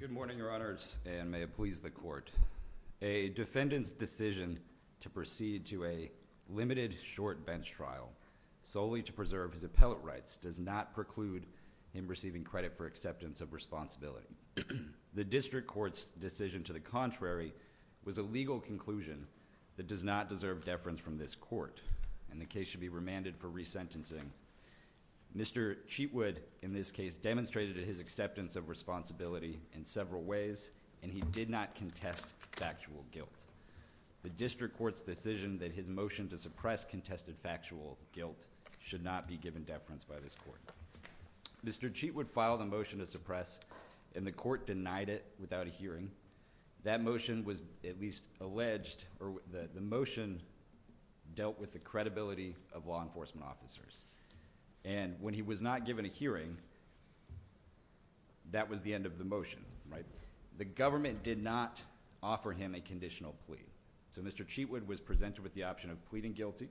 Good morning, Your Honors, and may it please the Court. A defendant's decision to proceed to a limited short bench trial solely to preserve his appellate rights does not preclude him receiving credit for acceptance of responsibility. The District Court's decision to the contrary was a legal conclusion that does not deserve deference from this Court, and the case should be remanded for resentencing. Mr. Cheatwood in this case demonstrated his acceptance of responsibility in several ways, and he did not contest factual guilt. The District Court's decision that his motion to suppress contested factual guilt should not be given deference by this Court. Mr. Cheatwood filed a motion to suppress, and the Court denied it without a hearing. That motion was at least alleged, or the motion dealt with the credibility of law enforcement officers, and when he was not given a hearing, that was the end of the motion, right? The government did not offer him a conditional plea, so Mr. Cheatwood was presented with the option of pleading guilty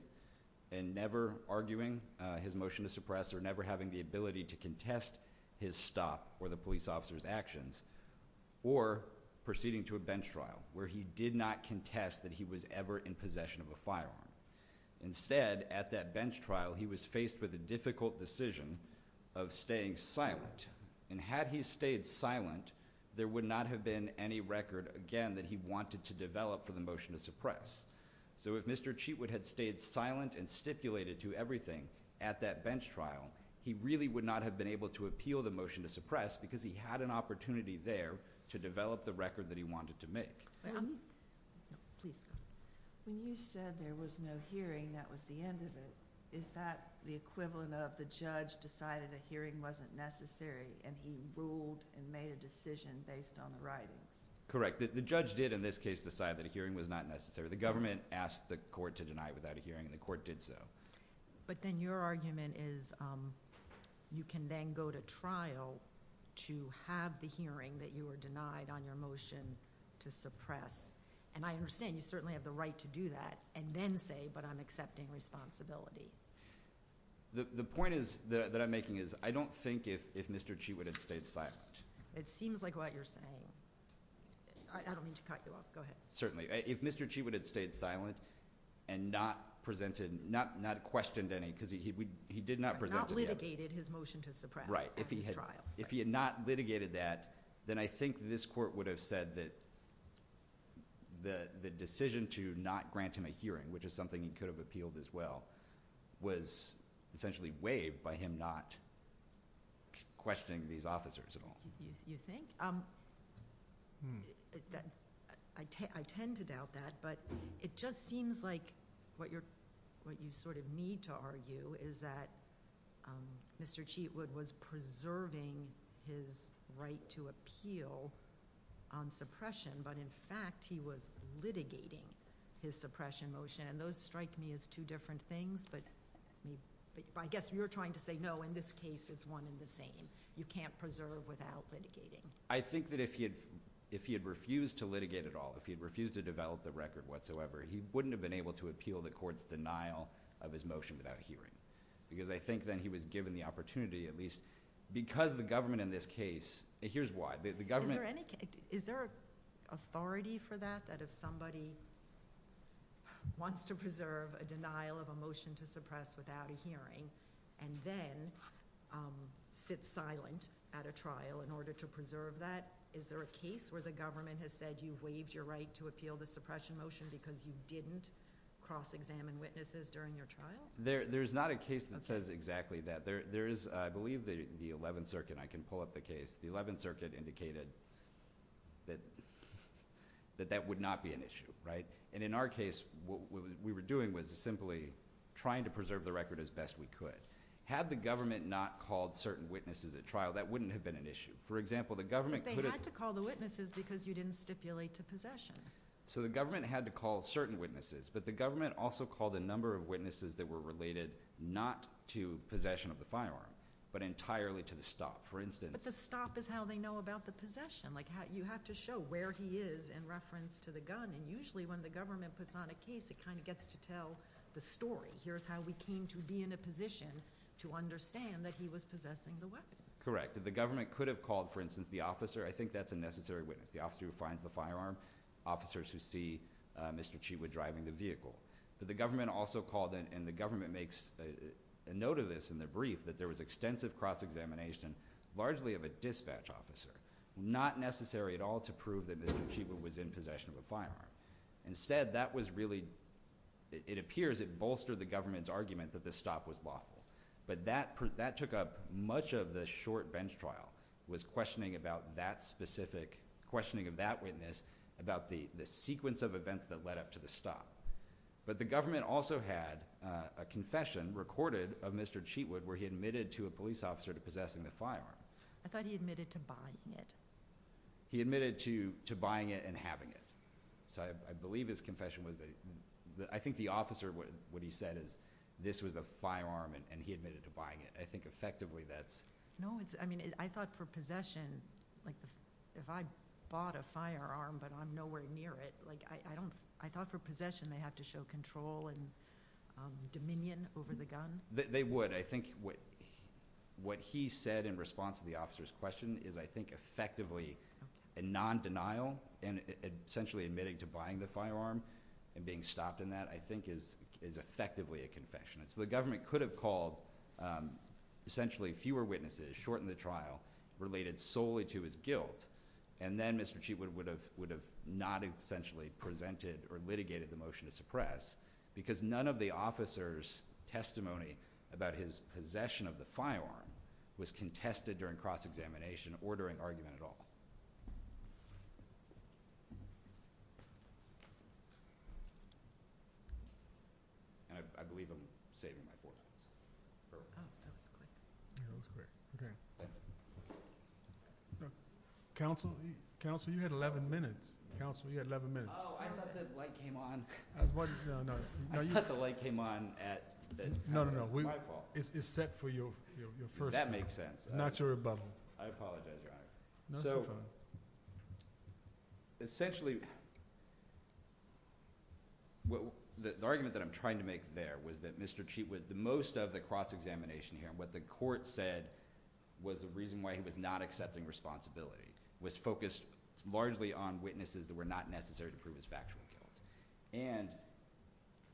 and never arguing his motion to suppress or never having the ability to contest his stop or the police officer's actions, or proceeding to a bench trial where he did not contest that he was ever in possession of a firearm. Instead, at that bench trial, he was faced with a difficult decision of staying silent, and had he stayed silent, there would not have been any record, again, that he wanted to develop for the motion to suppress. So if Mr. Cheatwood had stayed silent and stipulated to everything at that bench trial, he really would not have been able to appeal the motion to suppress, because he had an opportunity there to develop the record that he wanted to make. When you said there was no hearing, that was the end of it, is that the equivalent of the judge decided a hearing wasn't necessary, and he ruled and made a decision based on the writings? Correct. The judge did, in this case, decide that a hearing was not necessary. The government asked the court to deny it without a hearing, and the court did so. But then your argument is, you can then go to trial to have the hearing that you were denied on your motion to suppress, and I understand you certainly have the right to do that, and then say, but I'm accepting responsibility. The point that I'm making is, I don't think if Mr. Cheatwood had stayed silent. It seems like what you're saying. I don't mean to cut you off. Go ahead. Certainly. If Mr. Cheatwood had stayed silent and not questioned any, because he did not present to the evidence. Not litigated his motion to suppress. Right. At his trial. If he had not litigated that, then I think this court would have said that the decision to not grant him a hearing, which is something he could have appealed as well, was essentially waived by him not questioning these officers at all. You think? I tend to doubt that, but it just seems like what you sort of need to argue is that Mr. Cheatwood was preserving his right to appeal on suppression, but in fact, he was litigating his suppression motion, and those strike me as two different things, but I guess you're trying to say, no, in this case, it's one and the same. You can't preserve without litigating. I think that if he had refused to litigate at all, if he had refused to develop the record whatsoever, he wouldn't have been able to appeal the court's denial of his motion without a hearing, because I think then he was given the opportunity, at least, because the government in this case, here's why, the government... Is there an authority for that, that if somebody wants to preserve a denial of a motion to suppress without a hearing, and then sits silent at a trial in order to preserve that, is there a case where the government has said, you've waived your right to appeal the suppression motion because you didn't cross-examine witnesses during your trial? There's not a case that says exactly that. There is, I believe, the 11th Circuit, and I can pull up the case, the 11th Circuit indicated that that would not be an issue, right? In our case, what we were doing was simply trying to preserve the record as best we could. Had the government not called certain witnesses at trial, that wouldn't have been an issue. For example, the government... But they had to call the witnesses because you didn't stipulate to possession. So the government had to call certain witnesses, but the government also called a number of witnesses that were related not to possession of the firearm, but entirely to the stop. For instance... But the stop is how they know about the possession. You have to show where he is in reference to the gun, and usually when the government puts on a case, it kind of gets to tell the story. Here's how we came to be in a position to understand that he was possessing the weapon. Correct. The government could have called, for instance, the officer. I think that's a necessary witness, the officer who finds the firearm, officers who see Mr. Cheetwood driving the vehicle. The government also called, and the government makes a note of this in the brief, that there was extensive cross-examination, largely of a dispatch officer. Not necessary at all to prove that Mr. Cheetwood was in possession of a firearm. Instead, that was really... it appears it bolstered the government's argument that the stop was lawful. But that took up much of the short bench trial, was questioning about that specific... questioning of that witness about the sequence of events that led up to the stop. But the government also had a confession recorded of Mr. Cheetwood where he admitted to a police officer to possessing the firearm. I thought he admitted to buying it. He admitted to buying it and having it. So, I believe his confession was that... I think the officer, what he said is, this was a firearm and he admitted to buying it. I think effectively that's... No, I mean, I thought for possession... like, if I bought a firearm but I'm nowhere near it, like, I don't... I thought for possession they have to show control and dominion over the gun? They would. I think what he said in response to the officer's question is, I think effectively a non-denial and essentially admitting to buying the firearm and being stopped in that, I think is effectively a confession. So, the government could have called essentially fewer witnesses, shortened the trial, related solely to his guilt, and then Mr. Cheetwood would have not essentially presented or litigated the motion to suppress because none of the officer's testimony about his possession of the firearm was contested during cross-examination or during argument at all. And I believe I'm saving my four minutes. Oh, that was quick. That was quick. Okay. Counsel? Counsel, you had 11 minutes. Counsel, you had 11 minutes. Oh, I thought the light came on. I thought the light came on at... No, no, no. My fault. It's set for your first... That makes sense. Not your rebuttal. I apologize, Your Honor. No, it's your fault. So, essentially, the argument that I'm trying to make there was that Mr. Cheetwood, the most of the cross-examination here and what the court said was the reason why he was not accepting responsibility was focused largely on witnesses that were not necessary to prove his factual guilt. And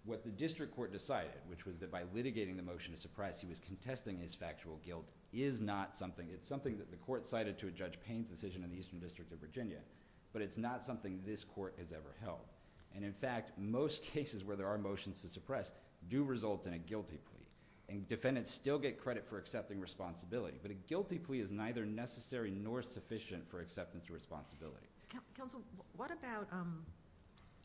what the district court decided, which was that by litigating the motion to suppress, he was contesting his factual guilt, is not something... It's something that the court cited to a Judge Payne's decision in the Eastern District of Virginia, but it's not something this court has ever held. And, in fact, most cases where there are motions to suppress do result in a guilty plea. And defendants still get credit for accepting responsibility. But a guilty plea is neither necessary nor sufficient for acceptance of responsibility. Counsel, what about...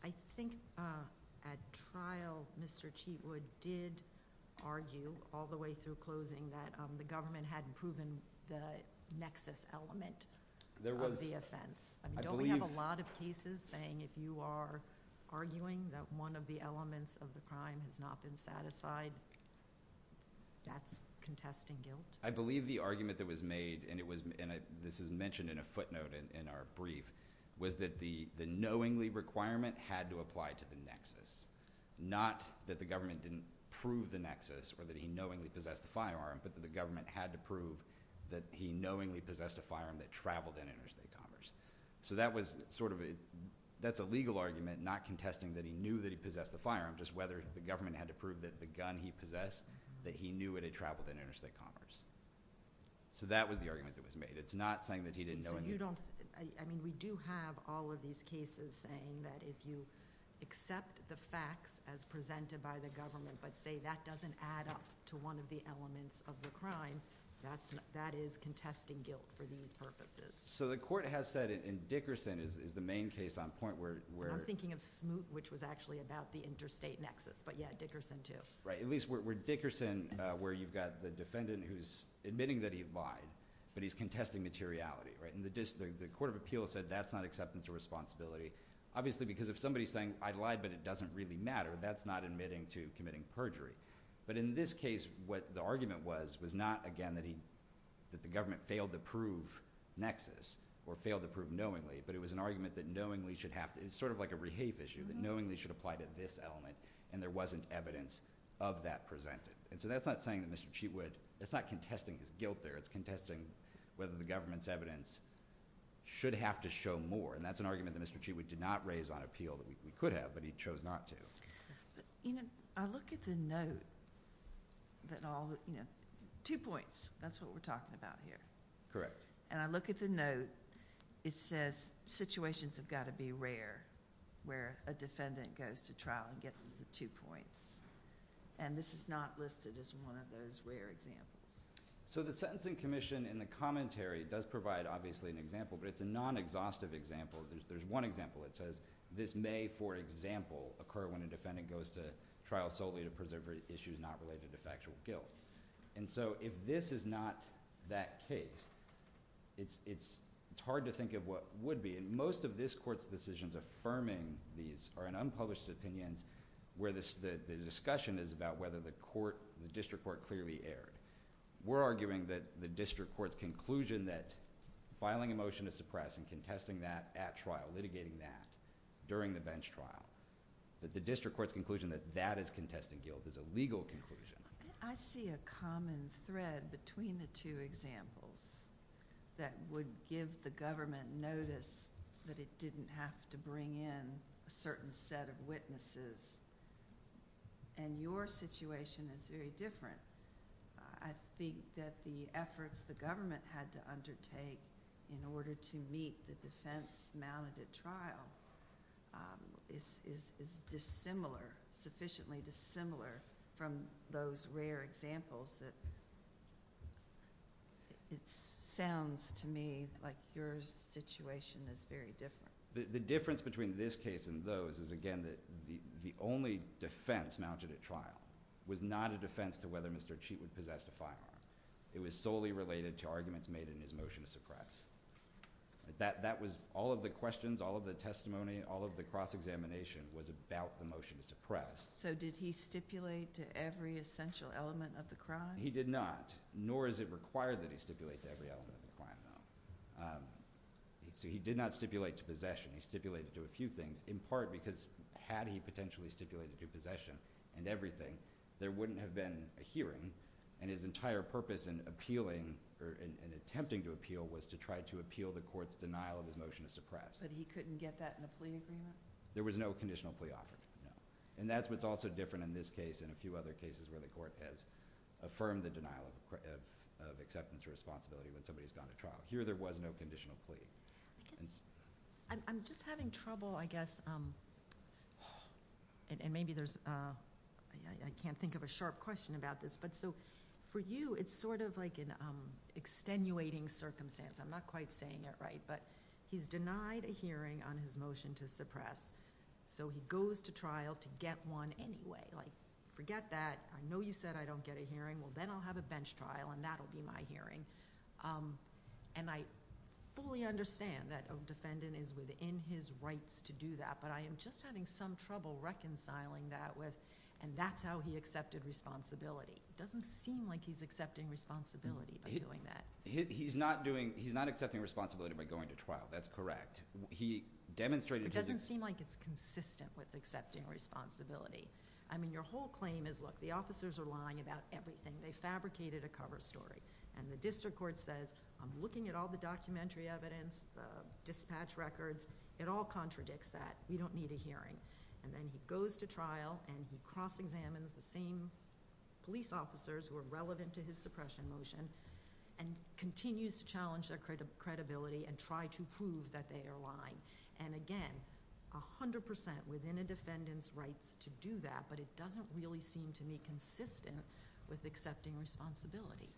I think at trial, Mr. Cheetwood did argue all the way through closing that the government hadn't proven the nexus element of the offense. Don't we have a lot of cases saying if you are arguing that one of the elements of the crime has not been satisfied, that's contesting guilt? I believe the argument that was made, and this is mentioned in a footnote in our brief, was that the knowingly requirement had to apply to the nexus. Not that the government didn't prove the nexus or that he knowingly possessed the firearm, but that the government had to prove that he knowingly possessed a firearm that traveled in interstate commerce. So that was sort of... That's a legal argument, not contesting that he knew that he possessed the firearm, just whether the government had to prove that the gun he possessed, that he So that was the argument that was made. It's not saying that he didn't know anything. So you don't... I mean, we do have all of these cases saying that if you accept the facts as presented by the government, but say that doesn't add up to one of the elements of the crime, that is contesting guilt for these purposes. So the court has said, and Dickerson is the main case on point where... I'm thinking of Smoot, which was actually about the interstate nexus, but yeah, Dickerson too. At least where Dickerson, where you've got the defendant who's admitting that he lied, but he's contesting materiality. The court of appeals said that's not acceptance or responsibility. Obviously, because if somebody's saying, I lied, but it doesn't really matter, that's not admitting to committing perjury. But in this case, what the argument was, was not, again, that the government failed to prove nexus or failed to prove knowingly, but it was an argument that knowingly should have... It's sort of like a rehape issue, that knowingly should apply to this element, and there wasn't evidence of that presented. So that's not saying that Mr. Cheatwood... It's not contesting his guilt there. It's contesting whether the government's evidence should have to show more, and that's an argument that Mr. Cheatwood did not raise on appeal that we could have, but he chose not to. I look at the note that all... Two points. That's what we're talking about here. Correct. I look at the note. It says situations have got to be rare where a defendant goes to trial and gets the two points, and this is not listed as one of those rare examples. So the Sentencing Commission, in the commentary, does provide, obviously, an example, but it's a non-exhaustive example. There's one example that says, this may, for example, occur when a defendant goes to trial solely to preserve issues not related to factual guilt. If this is not that case, it's hard to think of what would be. Most of this Court's decisions affirming these are in unpublished opinions where the discussion is about whether the District Court clearly erred. We're arguing that the District Court's conclusion that filing a motion to suppress and contesting that at trial, litigating that during the bench trial, that the District Court's conclusion that that is contesting guilt is a legal conclusion. I see a common thread between the two examples that would give the government notice that it didn't have to bring in a certain set of witnesses, and your situation is very different. I think that the efforts the government had to undertake in order to meet the defense mounted at trial is dissimilar, sufficiently dissimilar from those rare examples. It sounds to me like your situation is very different. The difference between this case and those is, again, that the only defense mounted at trial was not a defense to whether Mr. Cheatley possessed a firearm. It was solely related to arguments made in his motion to suppress. All of the questions, all of the testimony, all of the cross-examination was about the motion to suppress. Did he stipulate to every essential element of the crime? He did not, nor is it required that he stipulate to every element of the crime. He did not stipulate to possession. He stipulated to a few things, in part because had he potentially stipulated to possession and everything, there wouldn't have been a hearing. His entire purpose in appealing, or in attempting to appeal, was to try to appeal the court's denial of his motion to suppress. But he couldn't get that in a plea agreement? There was no conditional plea offer. That's what's also different in this case and a few other cases where the court has affirmed the denial of acceptance or responsibility when somebody's gone to trial. Here, there was no conditional plea. I'm just having trouble, I guess, and maybe there's, I can't think of a sharp question about this, but for you, it's sort of like an extenuating circumstance. I'm not quite saying it right, but he's denied a hearing on his motion to suppress, so he goes to trial to get one anyway. Forget that. I know you said I don't get a hearing. Well, then I'll have a bench trial and that'll be my hearing. I fully understand that a defendant is within his rights to do that, but I am just having some trouble reconciling that with, and that's how he accepted responsibility. It doesn't seem like he's accepting responsibility of doing that. He's not accepting responsibility by going to trial. That's correct. It doesn't seem like it's consistent with accepting responsibility. I mean, your whole claim is, look, the officers are lying about everything. They fabricated a cover story, and the district court says, I'm looking at all the documentary evidence, the dispatch records. It all contradicts that. You don't need a hearing. Then he goes to trial and he cross-examines the same police officers who are relevant to his suppression motion and continues to challenge their credibility and try to prove that they are lying. Again, 100% within a defendant's rights to do that, but it doesn't really seem to me consistent with accepting responsibility.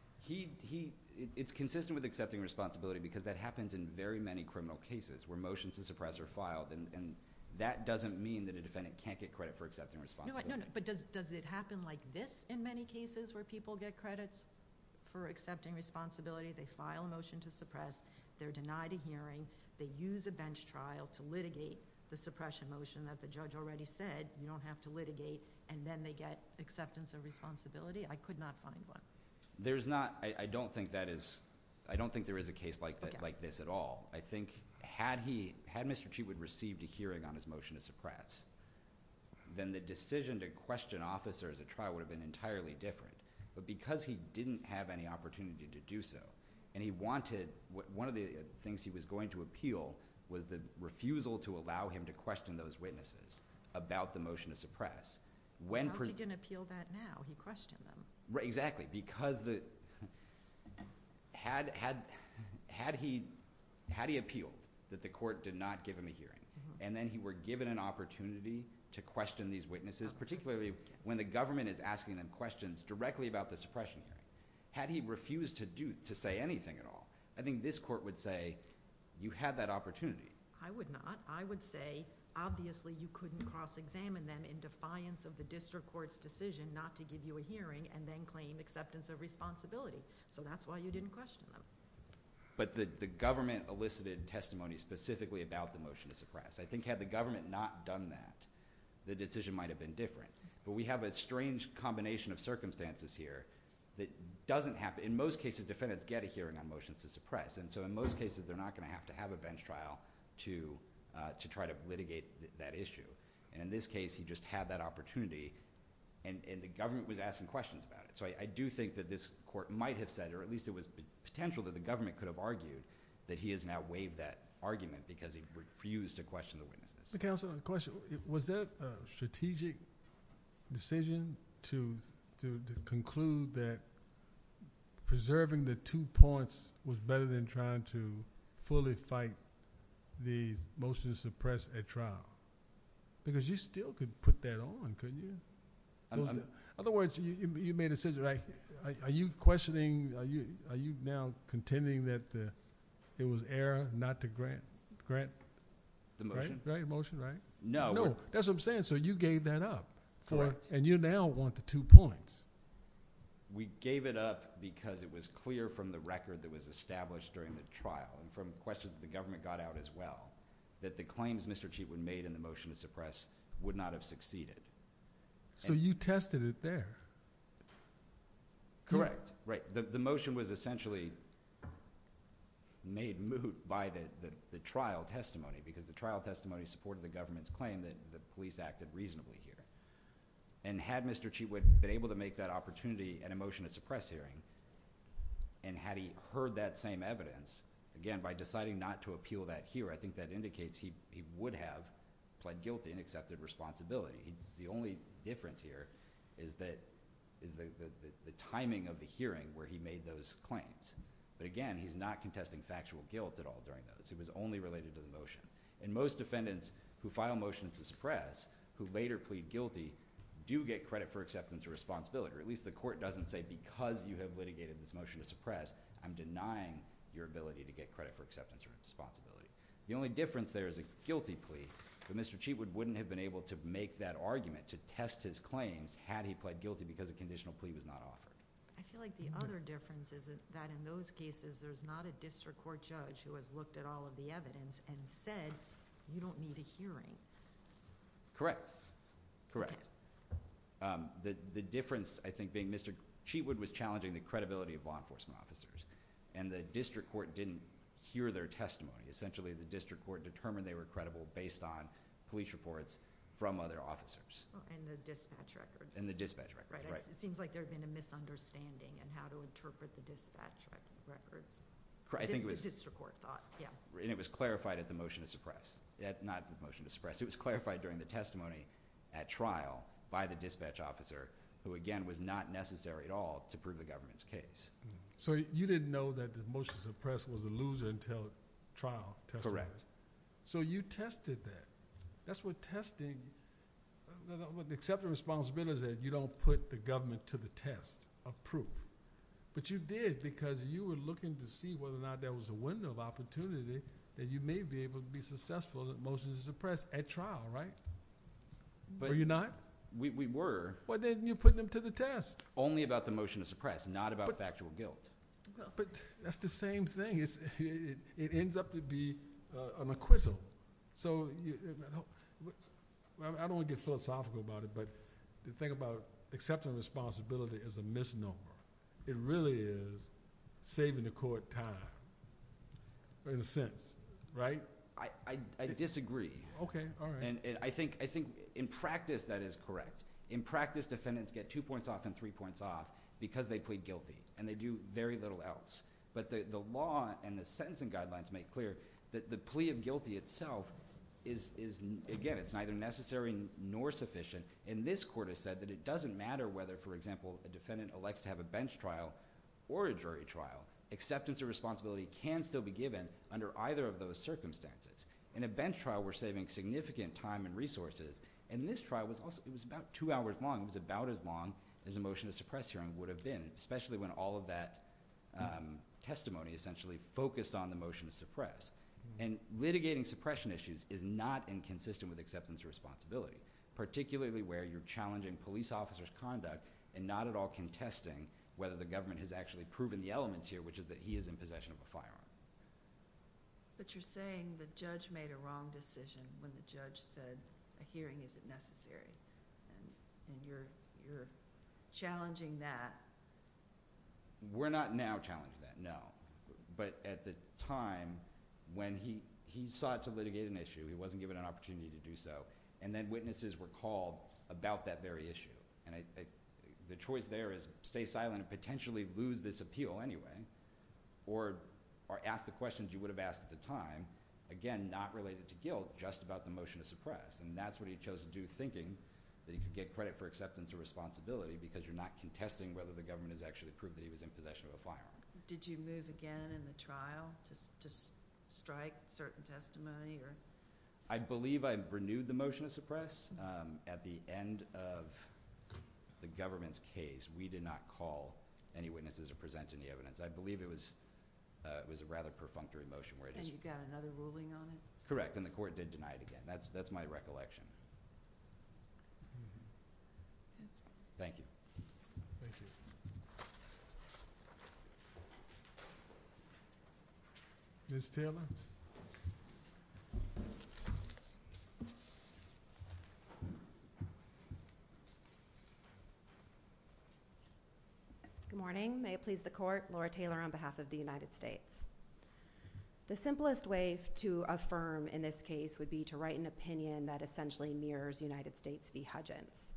It's consistent with accepting responsibility because that happens in very many criminal cases where motions to suppress are filed, and that doesn't mean that a defendant can't get credit for accepting responsibility. No, but does it happen like this in many cases where people get credits for accepting responsibility? They file a motion to suppress. They're denied a hearing. They use a bench trial to litigate the suppression motion that the judge already said. You don't have to litigate, and then they get acceptance of responsibility. I could not find one. I don't think there is a case like this at all. I think had Mr. Chiefwood received a hearing on his motion to suppress, then the decision to question officers at trial would have been entirely different, but because he didn't have any opportunity to do so and he wanted one of the things he was going to appeal was the refusal to allow him to question those witnesses about the motion to suppress. How is he going to appeal that now? He questioned them. Exactly. Had he appealed that the court did not give him a hearing and then he were given an opportunity to question these witnesses, particularly when the government is asking them questions directly about the suppression, had he refused to say anything at all, I think this court would say you had that opportunity. I would not. I would say obviously you couldn't cross-examine them in defiance of the district court's decision not to give you a hearing and then claim acceptance of responsibility. That's why you didn't question them. The government elicited testimony specifically about the motion to suppress. I think had the government not done that, the decision might have been different. We have a strange combination of circumstances here that doesn't happen. In most cases, defendants get a hearing on motions to suppress. In most cases, they're not going to have to have a bench trial to try to litigate that issue. In this case, he just had that opportunity and the government was asking questions about it. I do think that this court might have said, or at least it was potential that the government could have argued that he has now waived that argument because he refused to question the witnesses. Counselor, a question. Was that a strategic decision to conclude that preserving the two points was better than trying to fully fight the motion to suppress at trial? Because you still could put that on, couldn't you? In other words, you made a decision. Are you questioning, are you now contending that it was error not to grant the motion? No. That's what I'm saying. So you gave that up and you now want the two points. We gave it up because it was clear from the record that was established during the trial and from questions the government got out as well that the claims Mr. Cheatwood made in the motion to suppress would not have succeeded. So you tested it there? Correct. The motion was essentially made moot by the trial testimony because the trial testimony supported the government's claim that the police acted reasonably here. Had Mr. Cheatwood been able to make that opportunity in a motion to suppress hearing and had he heard that same evidence, again, by deciding not to appeal that here, I think that indicates he would have pled guilty and accepted responsibility. The only difference here is the timing of the hearing where he made those claims. But again, he's not contesting factual guilt at all during those. It was only related to the motion. Most defendants who file motions to suppress who later plead guilty do get credit for acceptance or responsibility, or at least the court doesn't say because you have litigated this motion to suppress, I'm denying your ability to get credit for acceptance or responsibility. The only difference there is a guilty plea, but Mr. Cheatwood wouldn't have been able to make that argument to test his claims had he pled guilty because a conditional plea was not offered. I feel like the other difference is that in those cases there's not a district court judge who has looked at all of the evidence and said you don't need a hearing. Correct. The difference I think being Mr. Cheatwood was challenging the credibility of law enforcement officers, and the district court didn't hear their testimony. Essentially the district court determined they were credible based on police reports from other officers. And the dispatch records. And the dispatch records, right. It seems like there had been a misunderstanding in how to interpret the dispatch records. The district court thought, yeah. And it was clarified at the motion to suppress. Not the motion to suppress. It was clarified during the testimony at trial by the dispatch officer who, again, was not necessary at all to prove the government's case. So you didn't know that the motion to suppress was a loser until trial. Correct. So you tested that. That's what testing... The acceptance of responsibility is that you don't put the government to the test of proof. But you did because you were looking to see whether or not there was a window of opportunity that you may be able to be successful at motions to suppress at trial, right? Were you not? We were. But then you put them to the test. Only about the motion to suppress. Not about factual guilt. But that's the same thing. It ends up to be an acquittal. So I don't want to get philosophical about it, but the thing about accepting responsibility as a misnomer, it really is saving the court time in a sense, right? I disagree. Okay. All right. And I think in practice that is correct. In practice, defendants get two points off and three points off because they plead guilty, and they do very little else. But the law and the sentencing guidelines make clear that the plea of guilty itself is, again, it's neither necessary nor sufficient. And this Court has said that it doesn't matter whether, for example, a defendant elects to have a bench trial or a jury trial. Acceptance of responsibility can still be given under either of those circumstances. In a bench trial, we're saving significant time and resources. In this trial, it was about two hours long. It was about as long as a motion to suppress hearing would have been, especially when all of that testimony essentially focused on the motion to suppress. And litigating suppression issues is not inconsistent with acceptance of responsibility, particularly where you're challenging police officers' conduct and not at all contesting whether the government has actually proven the elements here, which is that he is in possession of a firearm. But you're saying the judge made a wrong decision when the judge said a hearing isn't necessary, and you're challenging that. We're not now challenging that, no. But at the time when he sought to litigate an issue, he wasn't given an opportunity to do so, and then witnesses were called about that very issue. And the choice there is stay silent and potentially lose this appeal anyway, or ask the questions you would have asked at the time. Again, not related to guilt, just about the motion to suppress. And that's what he chose to do, thinking that he could get credit for acceptance of responsibility because you're not contesting whether the government has actually proved that he was in possession of a firearm. Did you move again in the trial to strike certain testimony? I believe I renewed the motion to suppress. At the end of the government's case, we did not call any witnesses to present any evidence. I believe it was a rather perfunctory motion. And you got another ruling on it? Correct, and the court did deny it again. That's my recollection. Thank you. Thank you. Ms. Taylor? Good morning. May it please the court, Laura Taylor on behalf of the United States. The simplest way to affirm in this case would be to write an opinion that essentially mirrors United States v. Hudgens.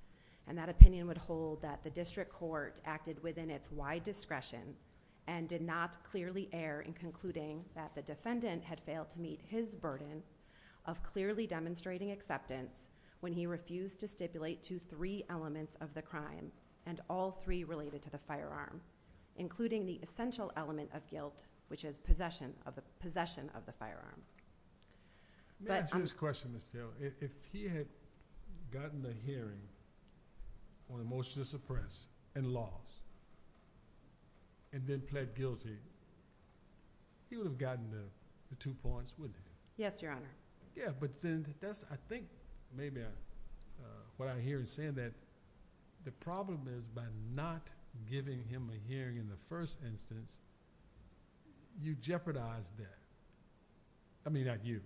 And that opinion would hold that the district court acted within its wide discretion and did not clearly err in concluding that the defendant had failed to meet his burden of clearly demonstrating acceptance when he refused to stipulate two three elements of the crime and all three related to the firearm, including the essential element of guilt, which is possession of the firearm. May I ask you this question, Ms. Taylor? If he had gotten a hearing on a motion to suppress and lost and then pled guilty, he would have gotten the two points, wouldn't he? Yes, Your Honor. Yeah, but then I think maybe what I hear in saying that, the problem is by not giving him a hearing in the first instance, you jeopardize that. I mean, not you,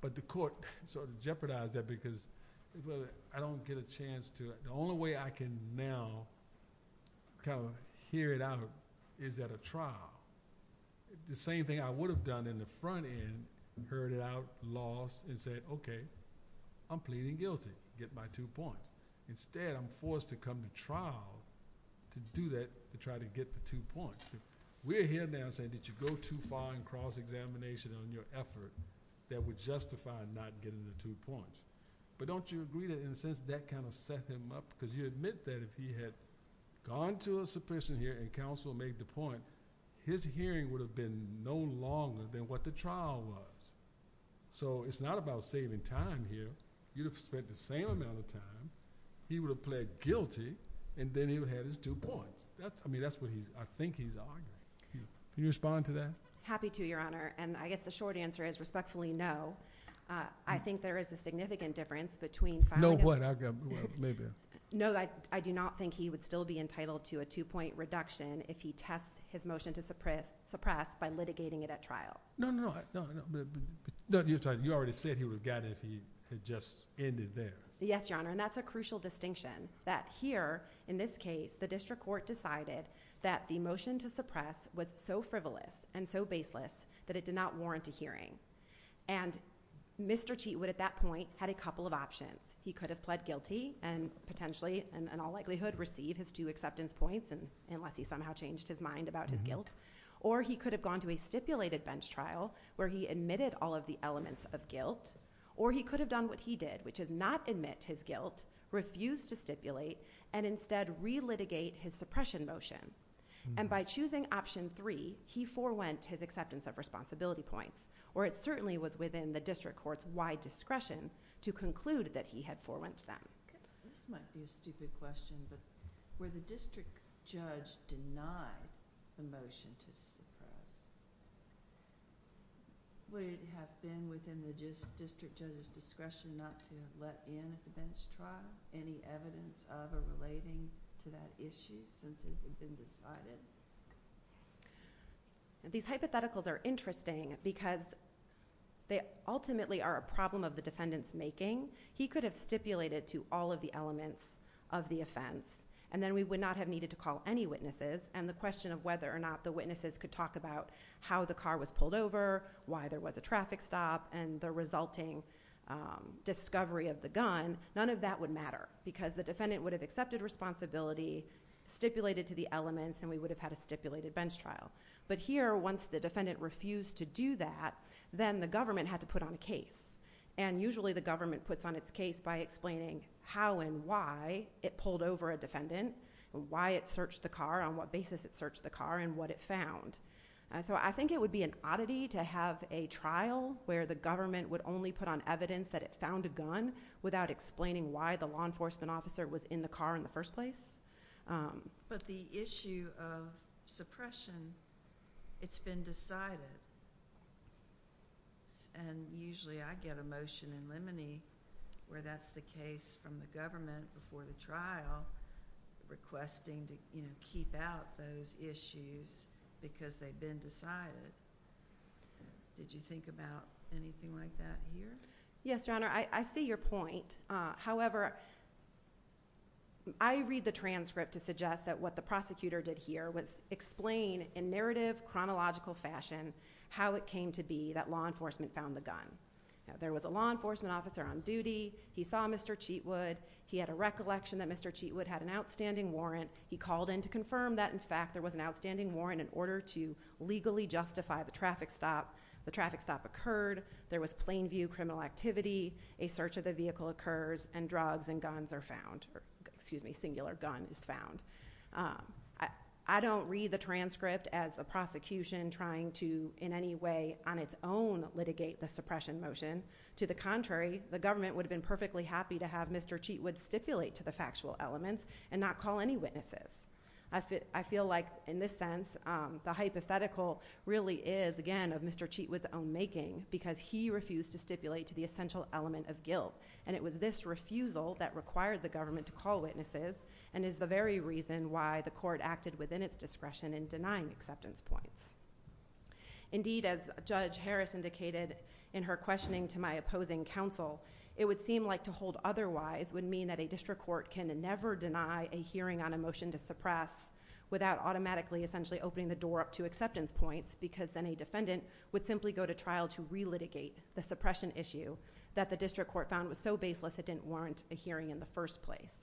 but the court. So to jeopardize that because I don't get a chance to. The only way I can now kind of hear it out is at a trial. The same thing I would have done in the front end, heard it out, lost, and said, okay, I'm pleading guilty, get my two points. Instead, I'm forced to come to trial to do that, to try to get the two points. We're here now saying that you go too far in cross-examination on your effort that would justify not getting the two points. But don't you agree that in a sense that kind of set him up? Because you admit that if he had gone to a suppression hearing and counsel made the point, his hearing would have been no longer than what the trial was. So it's not about saving time here. You'd have spent the same amount of time. He would have pled guilty, and then he would have had his two points. I mean, that's what I think he's arguing. Can you respond to that? Happy to, Your Honor. And I guess the short answer is respectfully no. I think there is a significant difference between No, what? Maybe. No, I do not think he would still be entitled to a two-point reduction if he tests his motion to suppress by litigating it at trial. No, no, no. You already said he would have gotten it if he had just ended there. Yes, Your Honor, and that's a crucial distinction. That here, in this case, the district court decided that the motion to suppress was so frivolous and so baseless that it did not warrant a hearing. And Mr. Cheatwood, at that point, had a couple of options. He could have pled guilty and potentially, in all likelihood, received his two acceptance points, unless he somehow changed his mind about his guilt. Or he could have gone to a stipulated bench trial where he admitted all of the elements of guilt. Or he could have done what he did, which is not admit his guilt, refuse to stipulate, and instead re-litigate his suppression motion. And by choosing option three, he forewent his acceptance of responsibility points. Or it certainly was within the district court's wide discretion to conclude that he had forewent them. This might be a stupid question, but were the district judge denied the motion to suppress? Would it have been within the district judge's discretion not to let in at the bench trial any evidence of or relating to that issue since it had been decided? These hypotheticals are interesting because they ultimately are a problem of the defendant's making. He could have stipulated to all of the elements of the offense. And then we would not have needed to call any witnesses. And the question of whether or not the witnesses could talk about how the car was pulled over, why there was a traffic stop, and the resulting discovery of the gun, none of that would matter. Because the defendant would have accepted responsibility, stipulated to the elements, and we would have had a stipulated bench trial. But here, once the defendant refused to do that, then the government had to put on a case. And usually the government puts on its case by explaining how and why it pulled over a defendant, why it searched the car, on what basis it searched the car, and what it found. So I think it would be an oddity to have a trial where the government would only put on evidence that it found a gun without explaining why the law enforcement officer was in the car in the first place. But the issue of suppression, it's been decided. And usually I get a motion in limine where that's the case from the government before the trial requesting to keep out those issues because they've been decided. Did you think about anything like that here? Yes, Your Honor, I see your point. However, I read the transcript to suggest that what the prosecutor did here was explain in narrative, chronological fashion how it came to be that law enforcement found the gun. There was a law enforcement officer on duty. He saw Mr. Cheatwood. He had a recollection that Mr. Cheatwood had an outstanding warrant. He called in to confirm that, in fact, there was an outstanding warrant in order to legally justify the traffic stop. The traffic stop occurred. There was plain view criminal activity. A search of the vehicle occurs, and drugs and guns are found. Excuse me, singular guns found. I don't read the transcript as the prosecution trying to, in any way, on its own, litigate the suppression motion. To the contrary, the government would have been perfectly happy to have Mr. Cheatwood stipulate to the factual elements and not call any witnesses. I feel like, in this sense, the hypothetical really is, again, of Mr. Cheatwood's own making because he refused to stipulate to the essential element of guilt. It was this refusal that required the government to call witnesses and is the very reason why the court acted within its discretion in denying acceptance points. Indeed, as Judge Harris indicated in her questioning to my opposing counsel, it would seem like to hold otherwise would mean that a district court can never deny a hearing on a motion to suppress without automatically, essentially, opening the door up to acceptance points because then a defendant would simply go to trial to re-litigate the suppression issue that the district court found was so baseless it didn't warrant a hearing in the first place.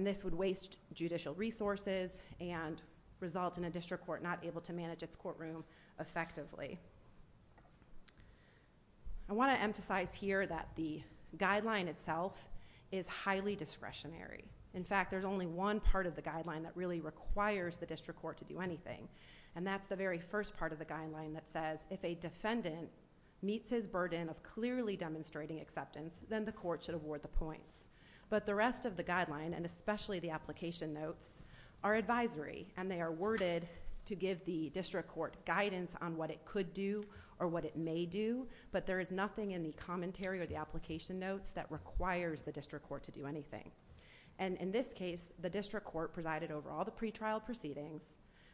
This would waste judicial resources and result in a district court not able to manage its courtroom effectively. I want to emphasize here that the guideline itself is highly discretionary. In fact, there's only one part of the guideline that really requires the district court to do anything, and that's the very first part of the guideline that says if a defendant meets his burden of clearly demonstrating acceptance, then the court should award the points. But the rest of the guideline, and especially the application notes, are advisory, and they are worded to give the district court guidance on what it could do or what it may do, but there is nothing in the commentary or the application notes that requires the district court to do anything. In this case, the district court presided over all the pretrial proceedings,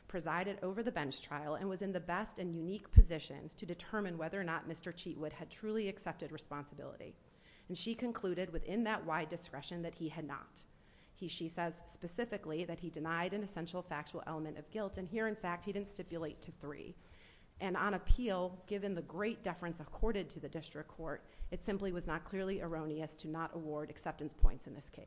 presided over the bench trial, and was in the best and unique position to determine whether or not Mr. Cheatwood had truly accepted responsibility. She concluded within that wide discretion that he had not. She says specifically that he denied an essential factual element of guilt, and here, in fact, he didn't stipulate to three. On appeal, given the great deference accorded to the district court, it simply was not clearly erroneous to not award acceptance points in this case.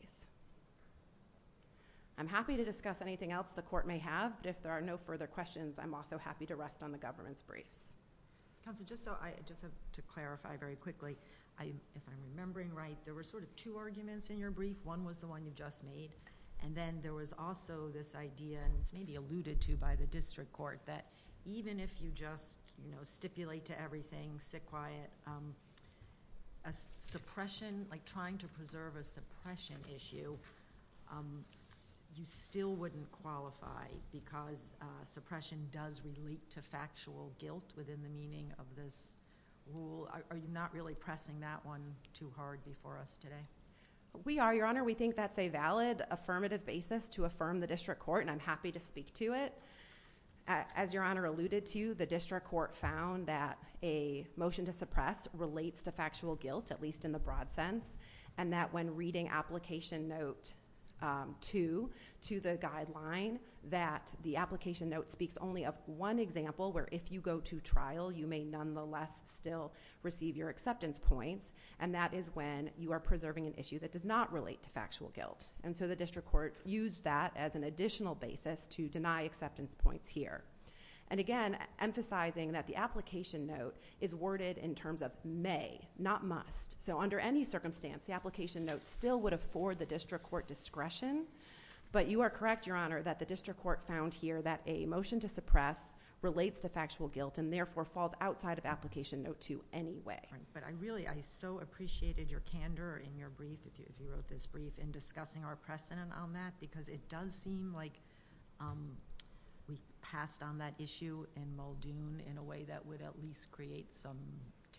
I'm happy to discuss anything else the court may have. If there are no further questions, I'm also happy to rest on the government's briefs. Counsel, just to clarify very quickly, if I'm remembering right, there were sort of two arguments in your brief. One was the one you just made, and then there was also this idea, and it's maybe alluded to by the district court, that even if you just stipulate to everything, sit quiet, a suppression, like trying to preserve a suppression issue, you still wouldn't qualify because suppression does relate to factual guilt within the meaning of this rule. Are you not really pressing that one too hard before us today? We are, Your Honor. We think that's a valid affirmative basis to affirm the district court, and I'm happy to speak to it. As Your Honor alluded to, the district court found that a motion to suppress relates to factual guilt, at least in the broad sense, and that when reading Application Note 2 to the guideline, that the application note speaks only of one example where if you go to trial, you may nonetheless still receive your acceptance points, and that is when you are preserving an issue that does not relate to factual guilt. The district court used that as an additional basis to deny acceptance points here. Again, emphasizing that the application note is worded in terms of may, not must. Under any circumstance, the application note still would afford the district court discretion, but you are correct, Your Honor, that the district court found here that a motion to suppress relates to factual guilt and therefore falls outside of Application Note 2 anyway. I really so appreciated your candor in your brief, if you wrote this brief, in discussing our precedent on that because it does seem like we passed on that issue in Muldoon in a way that would at least create some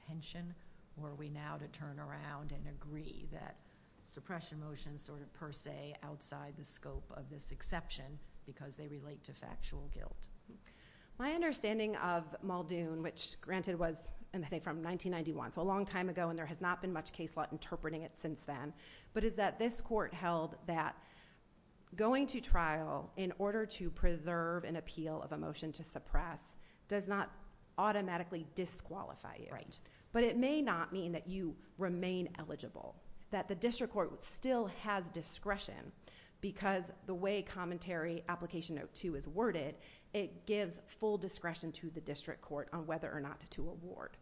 tension, were we now to turn around and agree that suppression motions sort of per se outside the scope of this exception because they relate to factual guilt. My understanding of Muldoon, which granted was, I think, from 1991, so a long time ago and there has not been much case law interpreting it since then, but is that this court held that going to trial in order to preserve an appeal of a motion to suppress does not automatically disqualify you. But it may not mean that you remain eligible, that the district court still has discretion because the way Commentary Application Note 2 is worded, it gives full discretion to the district court on whether or not to award.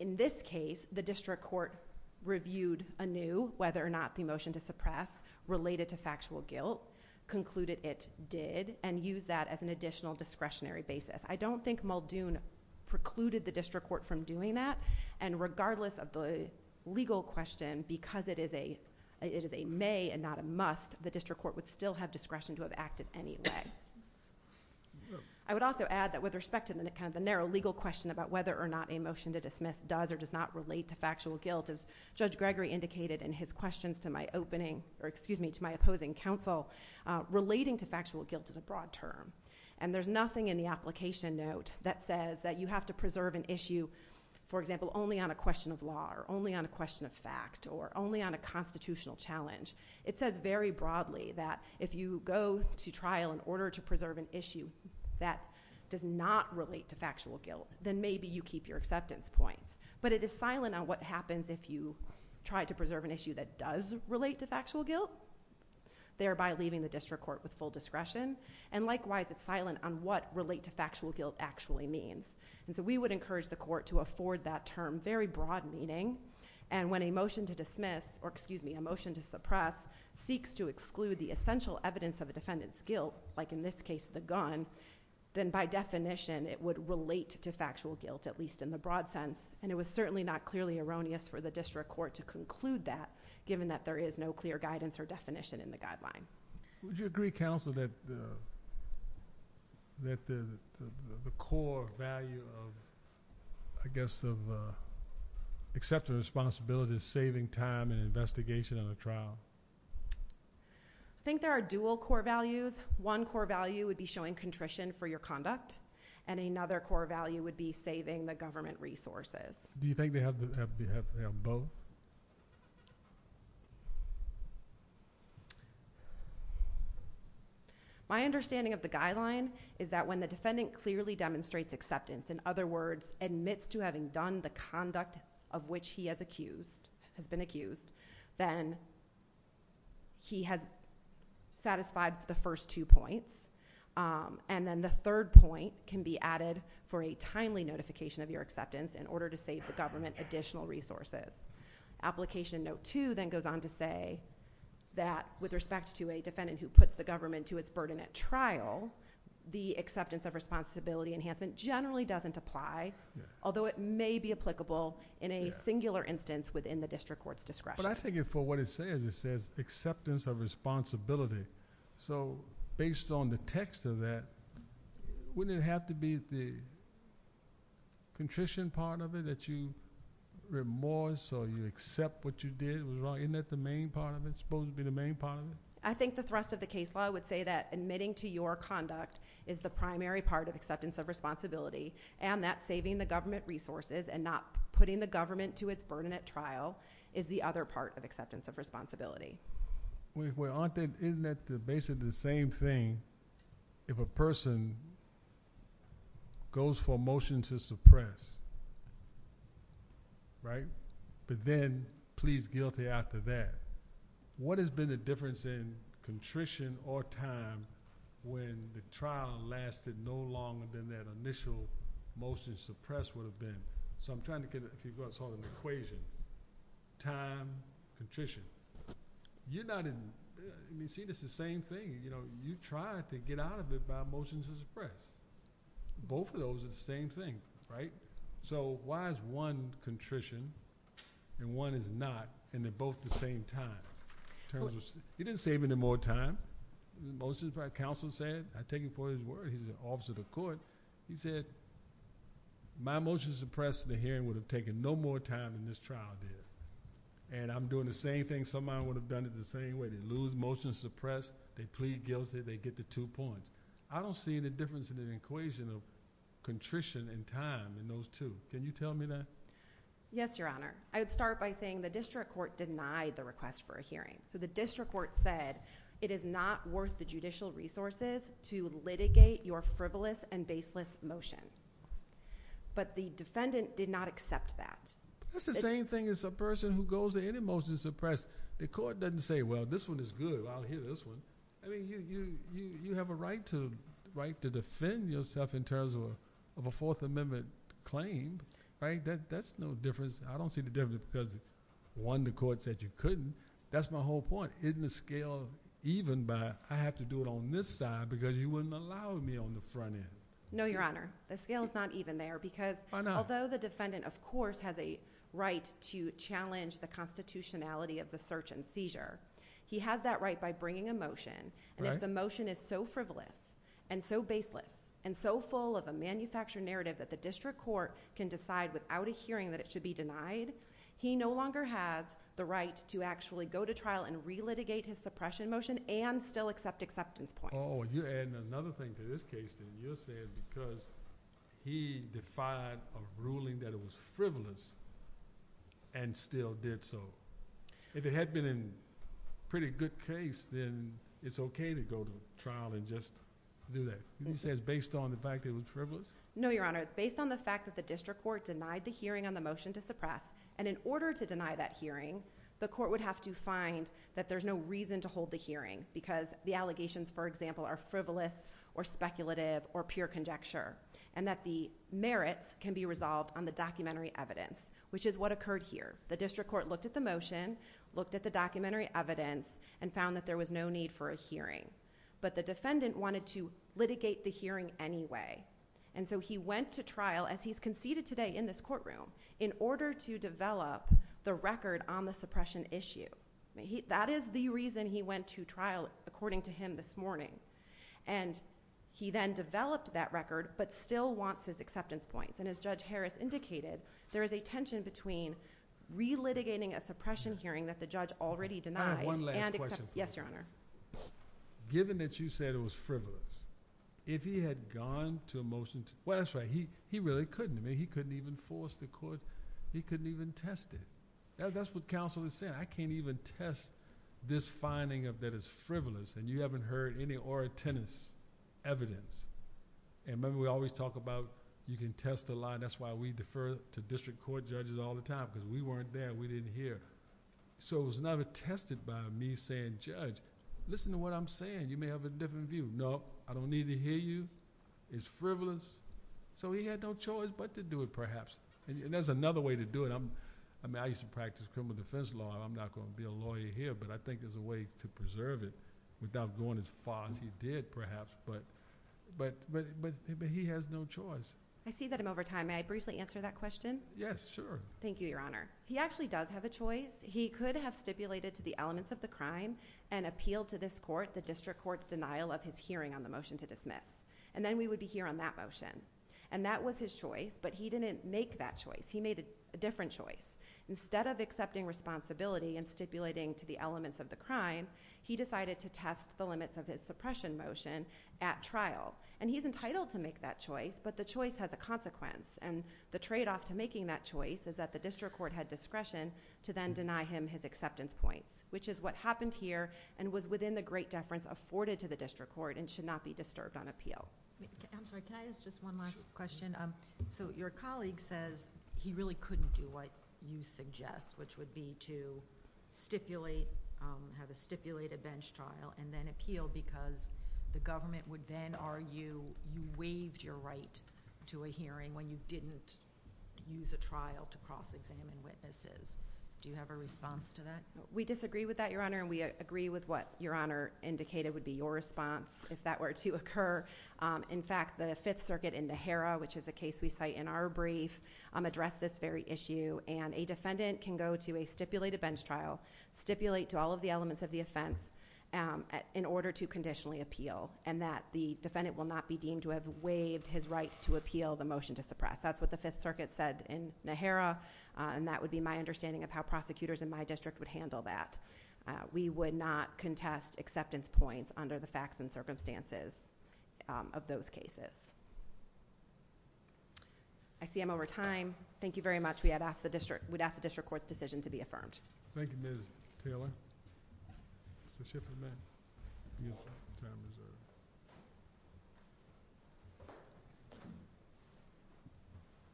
In this case, the district court reviewed anew whether or not the motion to suppress related to factual guilt, concluded it did, and used that as an additional discretionary basis. I don't think Muldoon precluded the district court from doing that and regardless of the legal question, because it is a may and not a must, the district court would still have discretion to have acted anyway. I would also add that with respect to the narrow legal question about whether or not a motion to dismiss does or does not relate to factual guilt, as Judge Gregory indicated in his questions to my opposing counsel, relating to factual guilt is a broad term. There's nothing in the application note that says that you have to preserve an issue, for example, only on a question of law or only on a question of fact or only on a constitutional challenge. It says very broadly that if you go to trial in order to preserve an issue that does not relate to factual guilt, then maybe you keep your acceptance points. But it is silent on what happens if you try to preserve an issue that does relate to factual guilt, thereby leaving the district court with full discretion. Likewise, it's silent on what relate to factual guilt actually means. We would encourage the court to afford that term very broad meaning and when a motion to dismiss or, excuse me, a motion to suppress seeks to exclude the essential evidence of a defendant's guilt, like in this case the gun, then by definition it would relate to factual guilt, at least in the broad sense. It was certainly not clearly erroneous for the district court to conclude that given that there is no clear guidance or definition in the guideline. Would you agree, counsel, that the core value of, I guess, accepting responsibility is saving time and investigation in a trial? I think there are dual core values. One core value would be showing contrition for your conduct and another core value would be saving the government resources. Do you think they have both? My understanding of the guideline is that when the defendant clearly demonstrates acceptance, in other words, admits to having done the conduct of which he has been accused, then he has satisfied the first two points. Then the third point can be added for a timely notification of your acceptance in order to save the government additional resources. Application note 2 then goes on to say that with respect to a defendant who puts the government to its burden at trial, the acceptance of responsibility enhancement generally doesn't apply, although it may be applicable in a singular instance within the district court's discretion. I take it for what it says. It says acceptance of responsibility. Based on the text of that, wouldn't it have to be the contrition part of it that you remorse or you accept what you did was wrong? Isn't that the main part of it? It's supposed to be the main part of it? I think the thrust of the case law would say that admitting to your conduct is the primary part of acceptance of responsibility and that saving the government resources and not putting the government to its burden at trial is the other part of acceptance of responsibility. Isn't that basically the same thing if a person goes for a motion to suppress, but then pleads guilty after that? What has been the difference in contrition or time when the trial lasted no longer than that initial motion to suppress would have been? I'm trying to figure out an equation. Time, contrition. You see this the same thing. You tried to get out of it by a motion to suppress. Both of those are the same thing. Why is one contrition and one is not and they're both the same time? He didn't save any more time. Most of the time, counsel said. I take it for his word. He's an officer of the court. He said my motion to suppress the hearing would have taken no more time than this trial did and I'm doing the same thing somebody would have done it the same way. They lose motion to suppress. They plead guilty. They get the two points. I don't see any difference in an equation of contrition and time in those two. Can you tell me that? Yes, your honor. I would start by saying the district court denied the request for a hearing. The district court said it is not worth the judicial resources to litigate your frivolous and baseless motion, but the defendant did not accept that. That's the same thing as a person who goes to any motion to suppress. The court doesn't say, well, this one is good. I'll hear this one. I mean, you have a right to defend yourself in terms of a Fourth Amendment claim. That's no difference. I don't see the difference because one, the court said you couldn't. That's my whole point. Isn't the scale even by I have to do it on this side because you wouldn't allow me on the front end? No, your honor, the scale is not even there because although the defendant, of course, has a right to challenge the constitutionality of the search and seizure, he has that right by bringing a motion, and if the motion is so frivolous and so baseless and so full of a manufactured narrative that the district court can decide without a hearing that it should be denied, he no longer has the right to actually go to trial and relitigate his suppression motion and still accept acceptance points. Oh, and another thing to this case, and you'll say it because he defied a ruling that it was frivolous and still did so. If it had been in pretty good case, then it's okay to go to trial and just do that. He says based on the fact that it was frivolous? No, your honor. It's based on the fact that the district court denied the hearing on the motion to suppress, and in order to deny that hearing, the court would have to find that there's no reason to hold the hearing because the allegations, for example, are frivolous or speculative or pure conjecture, and that the merits can be resolved on the documentary evidence, which is what occurred here. The district court looked at the motion, looked at the documentary evidence, and found that there was no need for a hearing, but the defendant wanted to litigate the hearing anyway, and so he went to trial, as he's conceded today in this courtroom, in order to develop the record on the suppression issue. That is the reason he went to trial, according to him this morning, and he then developed that record, but still wants his acceptance points, and as Judge Harris indicated, there is a tension between re-litigating a suppression hearing that the judge already denied. I have one last question for you. Yes, your honor. Given that you said it was frivolous, if he had gone to a motion to, well, that's right, he really couldn't. I mean, he couldn't even force the court, he couldn't even test it. That's what counsel is saying. I can't even test this finding of that it's frivolous, and you haven't heard any ora tenis evidence. Remember, we always talk about you can test a lie. That's why we defer to district court judges all the time, because we weren't there, we didn't hear. It was never tested by me saying, Judge, listen to what I'm saying. You may have a different view. No, I don't need to hear you. It's frivolous. He had no choice but to do it, perhaps. There's another way to do it. I mean, I used to practice criminal defense law, and I'm not going to be a lawyer here, but I think there's a way to preserve it without going as far as he did, perhaps. But he has no choice. I see that I'm over time. May I briefly answer that question? Yes, sure. Thank you, your honor. He actually does have a choice. He could have stipulated to the elements of the crime and appealed to this court the district court's denial of his hearing on the motion to dismiss, and then we would be here on that motion. And that was his choice, but he didn't make that choice. He made a different choice. Instead of accepting responsibility and stipulating to the elements of the crime, he decided to test the limits of his suppression motion at trial, and he's entitled to make that choice, but the choice has a consequence, and the tradeoff to making that choice is that the district court had discretion to then deny him his acceptance points, which is what happened here and was within the great deference afforded to the district court and should not be disturbed on appeal. I'm sorry, can I ask just one last question? So your colleague says he really couldn't do what you suggest, which would be to stipulate, have a stipulated bench trial, and then appeal because the government would then argue you waived your right to a hearing when you didn't use a trial to cross-examine witnesses. Do you have a response to that? We disagree with that, your honor, and we agree with what your honor indicated would be your response if that were to occur. In fact, the Fifth Circuit in the Harrah, which is a case we cite in our brief, addressed this very issue, and a defendant can go to a stipulated bench trial, stipulate to all of the elements of the offense in order to conditionally appeal, and that the defendant will not be deemed to have waived his right to appeal the motion to suppress. That's what the Fifth Circuit said in the Harrah, and that would be my understanding of how prosecutors in my district would handle that. We would not contest acceptance points under the facts and circumstances of those cases. I see I'm over time. Thank you very much. We would ask the district court's decision to be affirmed. Thank you, Ms. Taylor. It's the shift of the minute.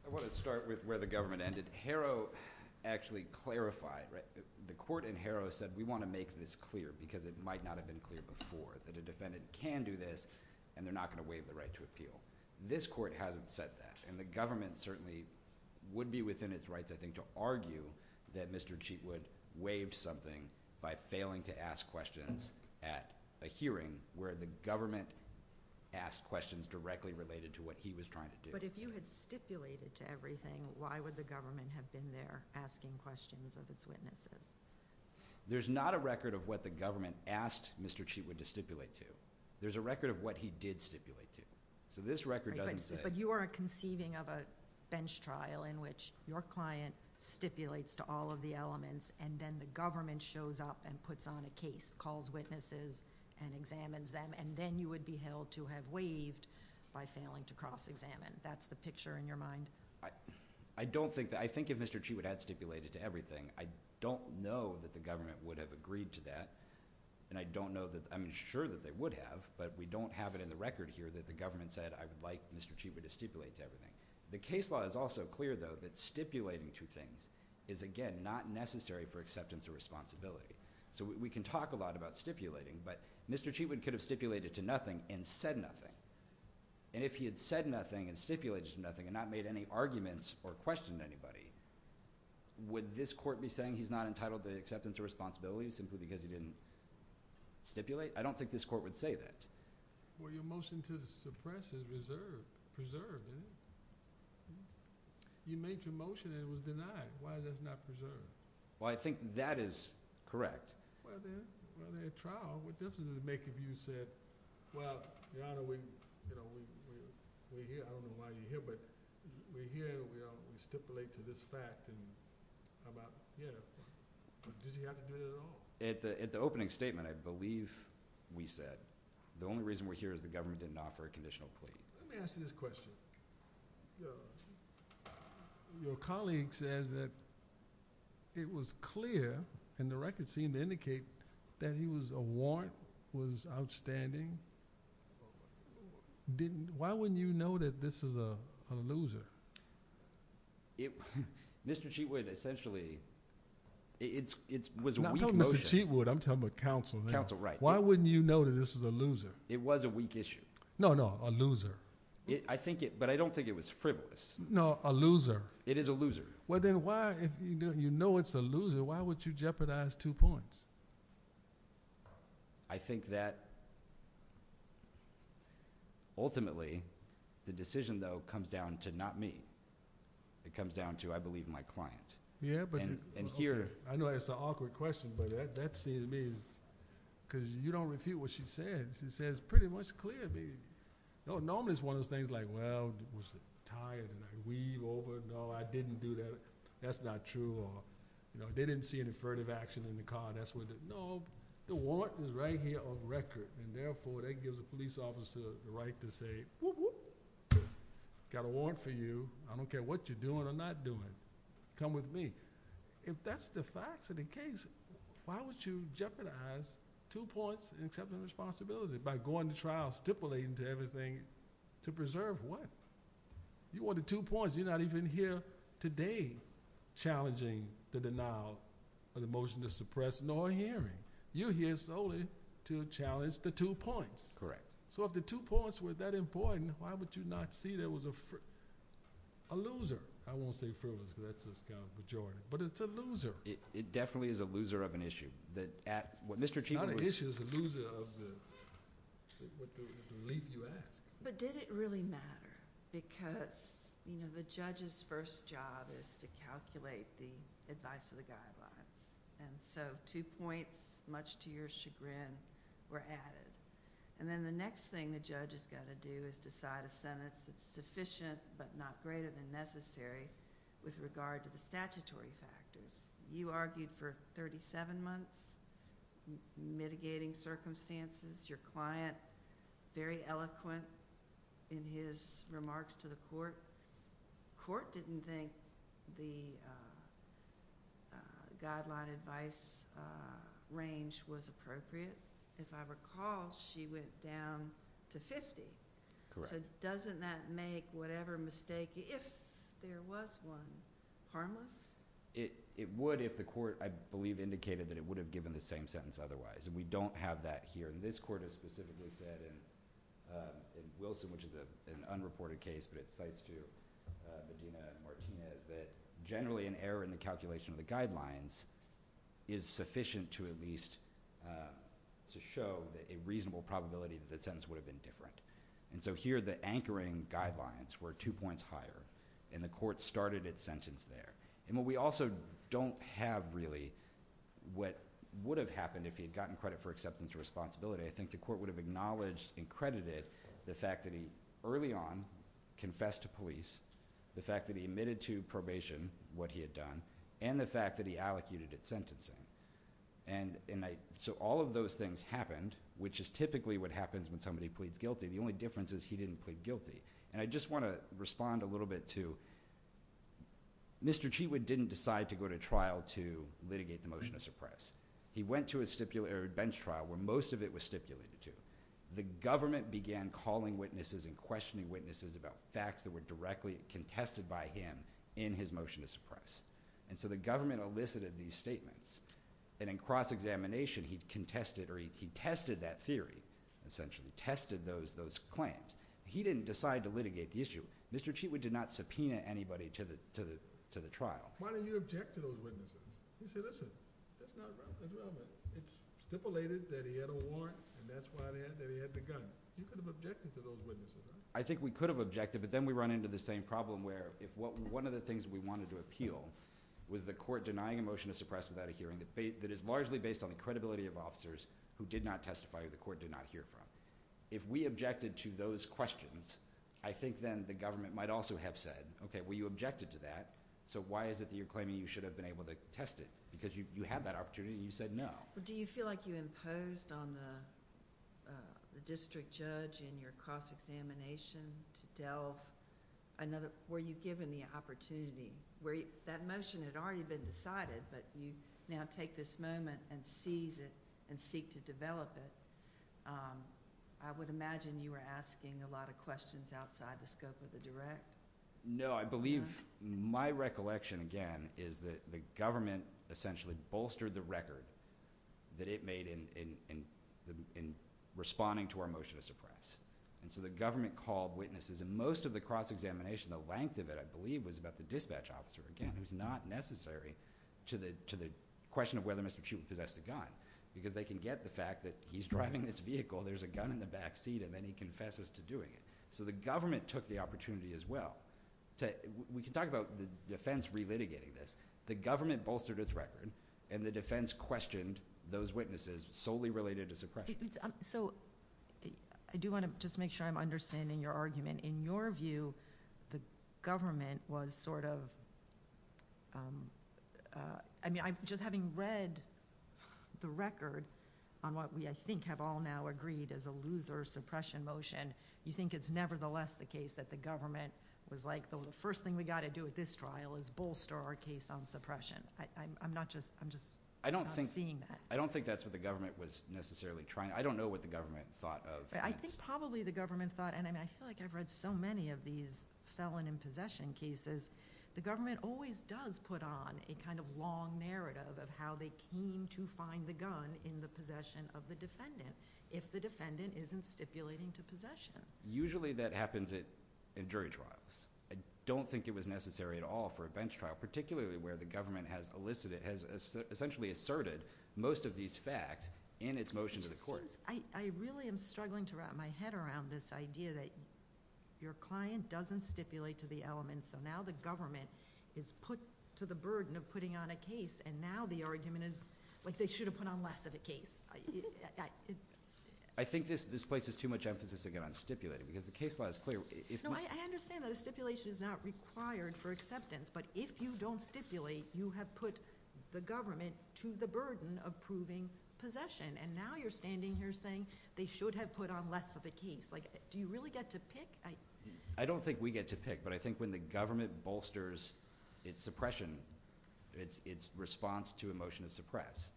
I want to start with where the government ended. Harrow actually clarified, right? The court in Harrow said, we want to make this clear because it might not have been clear before, that a defendant can do this, and they're not going to waive the right to appeal. This court hasn't said that, and the government certainly would be within its rights, I think, to argue that Mr. Cheatwood waived something by failing to ask questions at a hearing where the government asked questions directly related to what he was trying to do. But if you had stipulated to everything, why would the government have been there asking questions of its witnesses? There's not a record of what the government asked Mr. Cheatwood to stipulate to. There's a record of what he did stipulate to. So this record doesn't say. But you are conceiving of a bench trial in which your client stipulates to all of the elements, and then the government shows up and puts on a case, calls witnesses, and examines them, and then you would be held to have waived by failing to cross-examine. That's the picture in your mind? I don't think that. I think if Mr. Cheatwood had stipulated to everything, I don't know that the government would have agreed to that, and I'm sure that they would have, but we don't have it in the record here that the government said, I would like Mr. Cheatwood to stipulate to everything. The case law is also clear, though, that stipulating to things is, again, not necessary for acceptance or responsibility. So we can talk a lot about stipulating, but Mr. Cheatwood could have stipulated to nothing and said nothing. And if he had said nothing and stipulated to nothing and not made any arguments or questioned anybody, would this court be saying he's not entitled to acceptance or responsibility simply because he didn't stipulate? I don't think this court would say that. Well, your motion to suppress is preserved, isn't it? You made your motion and it was denied. Why is that not preserved? Well, I think that is correct. Well, then, in trial, what difference does it make if you said, well, Your Honor, we're here. I don't know why you're here, but we're here and we stipulate to this fact. How about, yeah. Did he have to do it at all? At the opening statement, I believe we said, the only reason we're here is the government didn't offer a conditional plea. Let me ask you this question. Your colleague says that it was clear, and the record seemed to indicate, that he was a warrant, was outstanding. Why wouldn't you know that this is a loser? Mr. Cheatwood, essentially, it was a weak motion. I'm not talking about Mr. Cheatwood, I'm talking about counsel. Counsel, right. Why wouldn't you know that this is a loser? It was a weak issue. No, no, a loser. But I don't think it was frivolous. No, a loser. It is a loser. Well, then, why, if you know it's a loser, why would you jeopardize two points? I think that, ultimately, the decision, though, comes down to not me. It comes down to, I believe my client. Yeah, but. And here. I know that's an awkward question, but that seems to me, because you don't refute what she said. She says, pretty much clear to me. Normally, it's one of those things like, well, it was a tie and a weave over. No, I didn't do that. That's not true. They didn't see an infertive action in the car. No, the warrant was right here on record. And, therefore, that gives a police officer the right to say, whoop, whoop, got a warrant for you. I don't care what you're doing or not doing. Come with me. If that's the facts of the case, why would you jeopardize two points and accept the responsibility by going to trial, stipulating to everything to preserve what? You wanted two points. You're not even here today challenging the denial of the motion to suppress, nor hearing. You're here solely to challenge the two points. So, if the two points were that important, why would you not see there was a loser? I won't say frivolous, because that's a kind of majority, but it's a loser. It definitely is a loser of an issue. Not an issue, it's a loser of the relief you asked. But did it really matter? Because the judge's first job is to calculate the advice of the guidelines. And so, two points, much to your chagrin, were added. And then the next thing the judge has got to do is decide a sentence that's sufficient but not greater than necessary with regard to the statutory factors. You argued for 37 months, mitigating circumstances. Your client, very eloquent in his remarks to the court. The court didn't think the guideline advice range was appropriate. If I recall, she went down to 50. Correct. So, doesn't that make whatever mistake, if there was one, harmless? It would if the court, I believe, indicated that it would have given the same sentence otherwise. And we don't have that here. And this court has specifically said, in Wilson, which is an unreported case, but it cites to Medina and Martinez, that generally an error in the calculation of the guidelines is sufficient to at least show a reasonable probability that the sentence would have been different. And so here, the anchoring guidelines were two points higher. And the court started its sentence there. And what we also don't have, really, what would have happened if he had gotten credit for acceptance of responsibility, I think the court would have acknowledged and credited the fact that he, early on, confessed to police, the fact that he admitted to probation what he had done, and the fact that he allocuted at sentencing. And so all of those things happened, which is typically what happens when somebody pleads guilty. The only difference is he didn't plead guilty. And I just want to respond a little bit to, Mr. Cheawood didn't decide to go to trial to litigate the motion of suppress. He went to a bench trial, where most of it was stipulated to. The government began calling witnesses and questioning witnesses about facts that were directly contested by him in his motion to suppress. And so the government elicited these statements. And in cross-examination, he contested, or he contested that theory, essentially, tested those claims. He didn't decide to litigate the issue. Mr. Cheawood did not subpoena anybody to the trial. Why didn't you object to those witnesses? He said, listen, it's stipulated that he had a warrant, and that's why he had the gun. You could have objected to those witnesses, right? I think we could have objected, but then we run into the same problem, where if one of the things we wanted to appeal was the court denying a motion to suppress without a hearing that is largely based on the credibility of officers who did not testify or the court did not hear from. If we objected to those questions, I think then the government might also have said, okay, well, you objected to that, so why is it that you're claiming you should have been able to test it? Because you had that opportunity, and you said no. Do you feel like you imposed on the district judge in your cross-examination to delve, were you given the opportunity? That motion had already been decided, but you now take this moment and seize it and seek to develop it. I would imagine you were asking a lot of questions outside the scope of the direct. No, I believe my recollection, again, is that the government essentially bolstered the record that it made in responding to our motion to suppress. And so the government called witnesses, and most of the cross-examination, the length of it, I believe, was about the dispatch officer, again, who's not necessary to the question of whether Mr. Shulman possessed a gun, because they can get the fact that he's driving this vehicle, there's a gun in the back seat, and then he confesses to doing it. So the government took the opportunity as well. We can talk about the defense relitigating this. The government bolstered its record, and the defense questioned those witnesses solely related to suppression. So I do wanna just make sure I'm understanding your argument. In your view, the government was sort of, I mean, just having read the record on what we, I think, have all now agreed as a loser suppression motion, you think it's nevertheless the case that the government was like, the first thing we gotta do at this trial is bolster our case on suppression. I'm just not seeing that. I don't think that's what the government was necessarily trying. I don't know what the government thought of that. I think probably the government thought, and I feel like I've read so many of these felon in possession cases, the government always does put on a kind of long narrative of how they came to find the gun in the possession of the defendant if the defendant isn't stipulating to possession. Usually that happens in jury trials. I don't think it was necessary at all for a bench trial, particularly where the government has elicited, has essentially asserted most of these facts in its motion to the court. It just seems, I really am struggling to wrap my head around this idea that your client doesn't stipulate to the element, so now the government is put to the burden of putting on a case, and now the argument is, like they should have put on less of a case. I think this places too much emphasis again on stipulating, because the case law is clear. No, I understand that a stipulation is not required for acceptance, but if you don't stipulate, you have put the government to the burden of proving possession, and now you're standing here saying they should have put on less of a case. Do you really get to pick? I don't think we get to pick, but I think when the government bolsters its suppression, its response to a motion to suppress,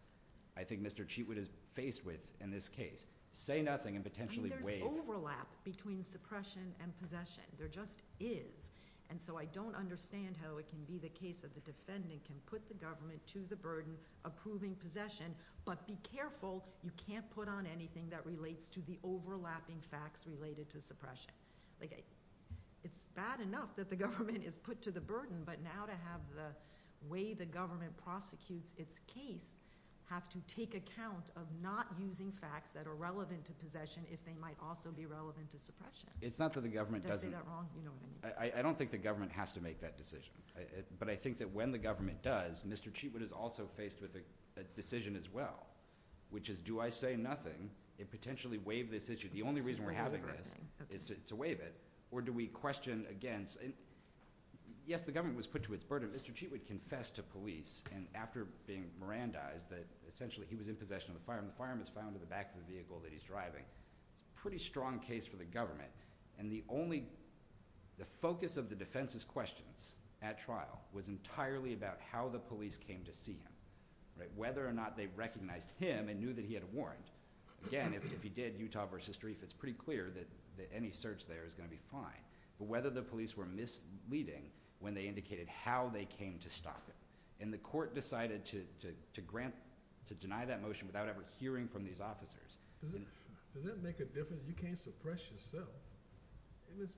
I think Mr. Cheatwood is faced with in this case, say nothing and potentially wait. There's overlap between suppression and possession. There just is, and so I don't understand how it can be the case that the defendant can put the government to the burden of proving possession, but be careful you can't put on anything that relates to the overlapping facts related to suppression. It's bad enough that the government is put to the burden, but now to have the way the government prosecutes its case have to take account of not using facts that are relevant to possession if they might also be relevant to suppression. It's not that the government doesn't. Did I say that wrong? I don't think the government has to make that decision, but I think that when the government does, Mr. Cheatwood is also faced with a decision as well, which is do I say nothing and potentially waive this issue? The only reason we're having this is to waive it, or do we question against? Yes, the government was put to its burden. Mr. Cheatwood confessed to police and after being Mirandized that essentially he was in possession of the firearm. The firearm is found in the back of the vehicle that he's driving. It's a pretty strong case for the government, and the focus of the defense's questions at trial was entirely about how the police came to see him, whether or not they recognized him and knew that he had a warrant. Again, if he did, Utah versus Drief, it's pretty clear that any search there is gonna be fine, but whether the police were misleading when they indicated how they came to stop him, and the court decided to deny that motion without ever hearing from these officers. Does that make a difference? You can't suppress yourself. It was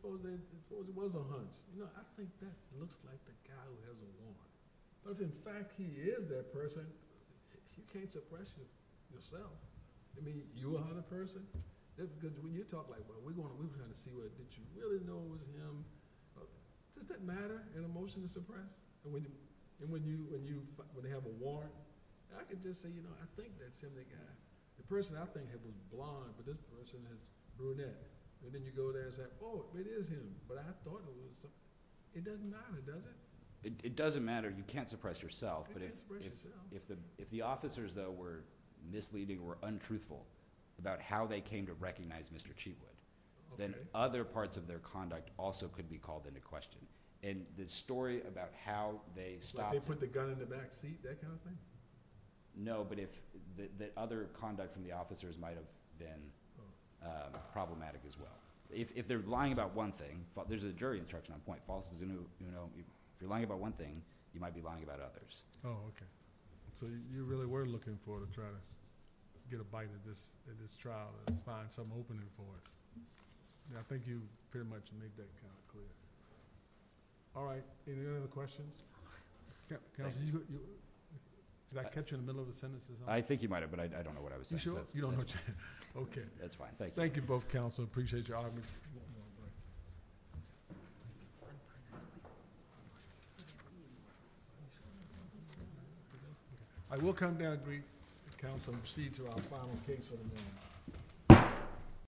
a hunch. I think that looks like the guy who has a warrant. But if, in fact, he is that person, he can't suppress himself. Do you mean you are the person? When you talk like, well, we're gonna see whether you really know him. Does that matter in a motion to suppress? And when they have a warrant? I can just say, you know, I think that's him, that guy. The person I think had blonde, but this person has brunette. And then you go there and say, oh, it is him, but I thought it was him. It doesn't matter, does it? It doesn't matter. You can't suppress yourself. You can't suppress yourself. If the officers, though, were misleading or untruthful about how they came to recognize Mr. Cheatwood, then other parts of their conduct also could be called into question. And the story about how they stopped him. Like they put the gun in the back seat, that kind of thing? No, but if the other conduct from the officers might have been problematic as well. If they're lying about one thing, there's a jury in charge at one point. If you're lying about one thing, you might be lying about others. Oh, okay. So you really were looking for to try to get a bite at this trial and find some opening for it. I think you pretty much made that kind of clear. All right. Any other questions? Counsel, did I catch you in the middle of the sentence? I think you might have, but I don't know what I was saying. You don't know what you said? Okay. That's fine. Thank you. Thank you both, Counsel. I appreciate your audience. I will come down and greet Counsel and proceed to our final case for the morning.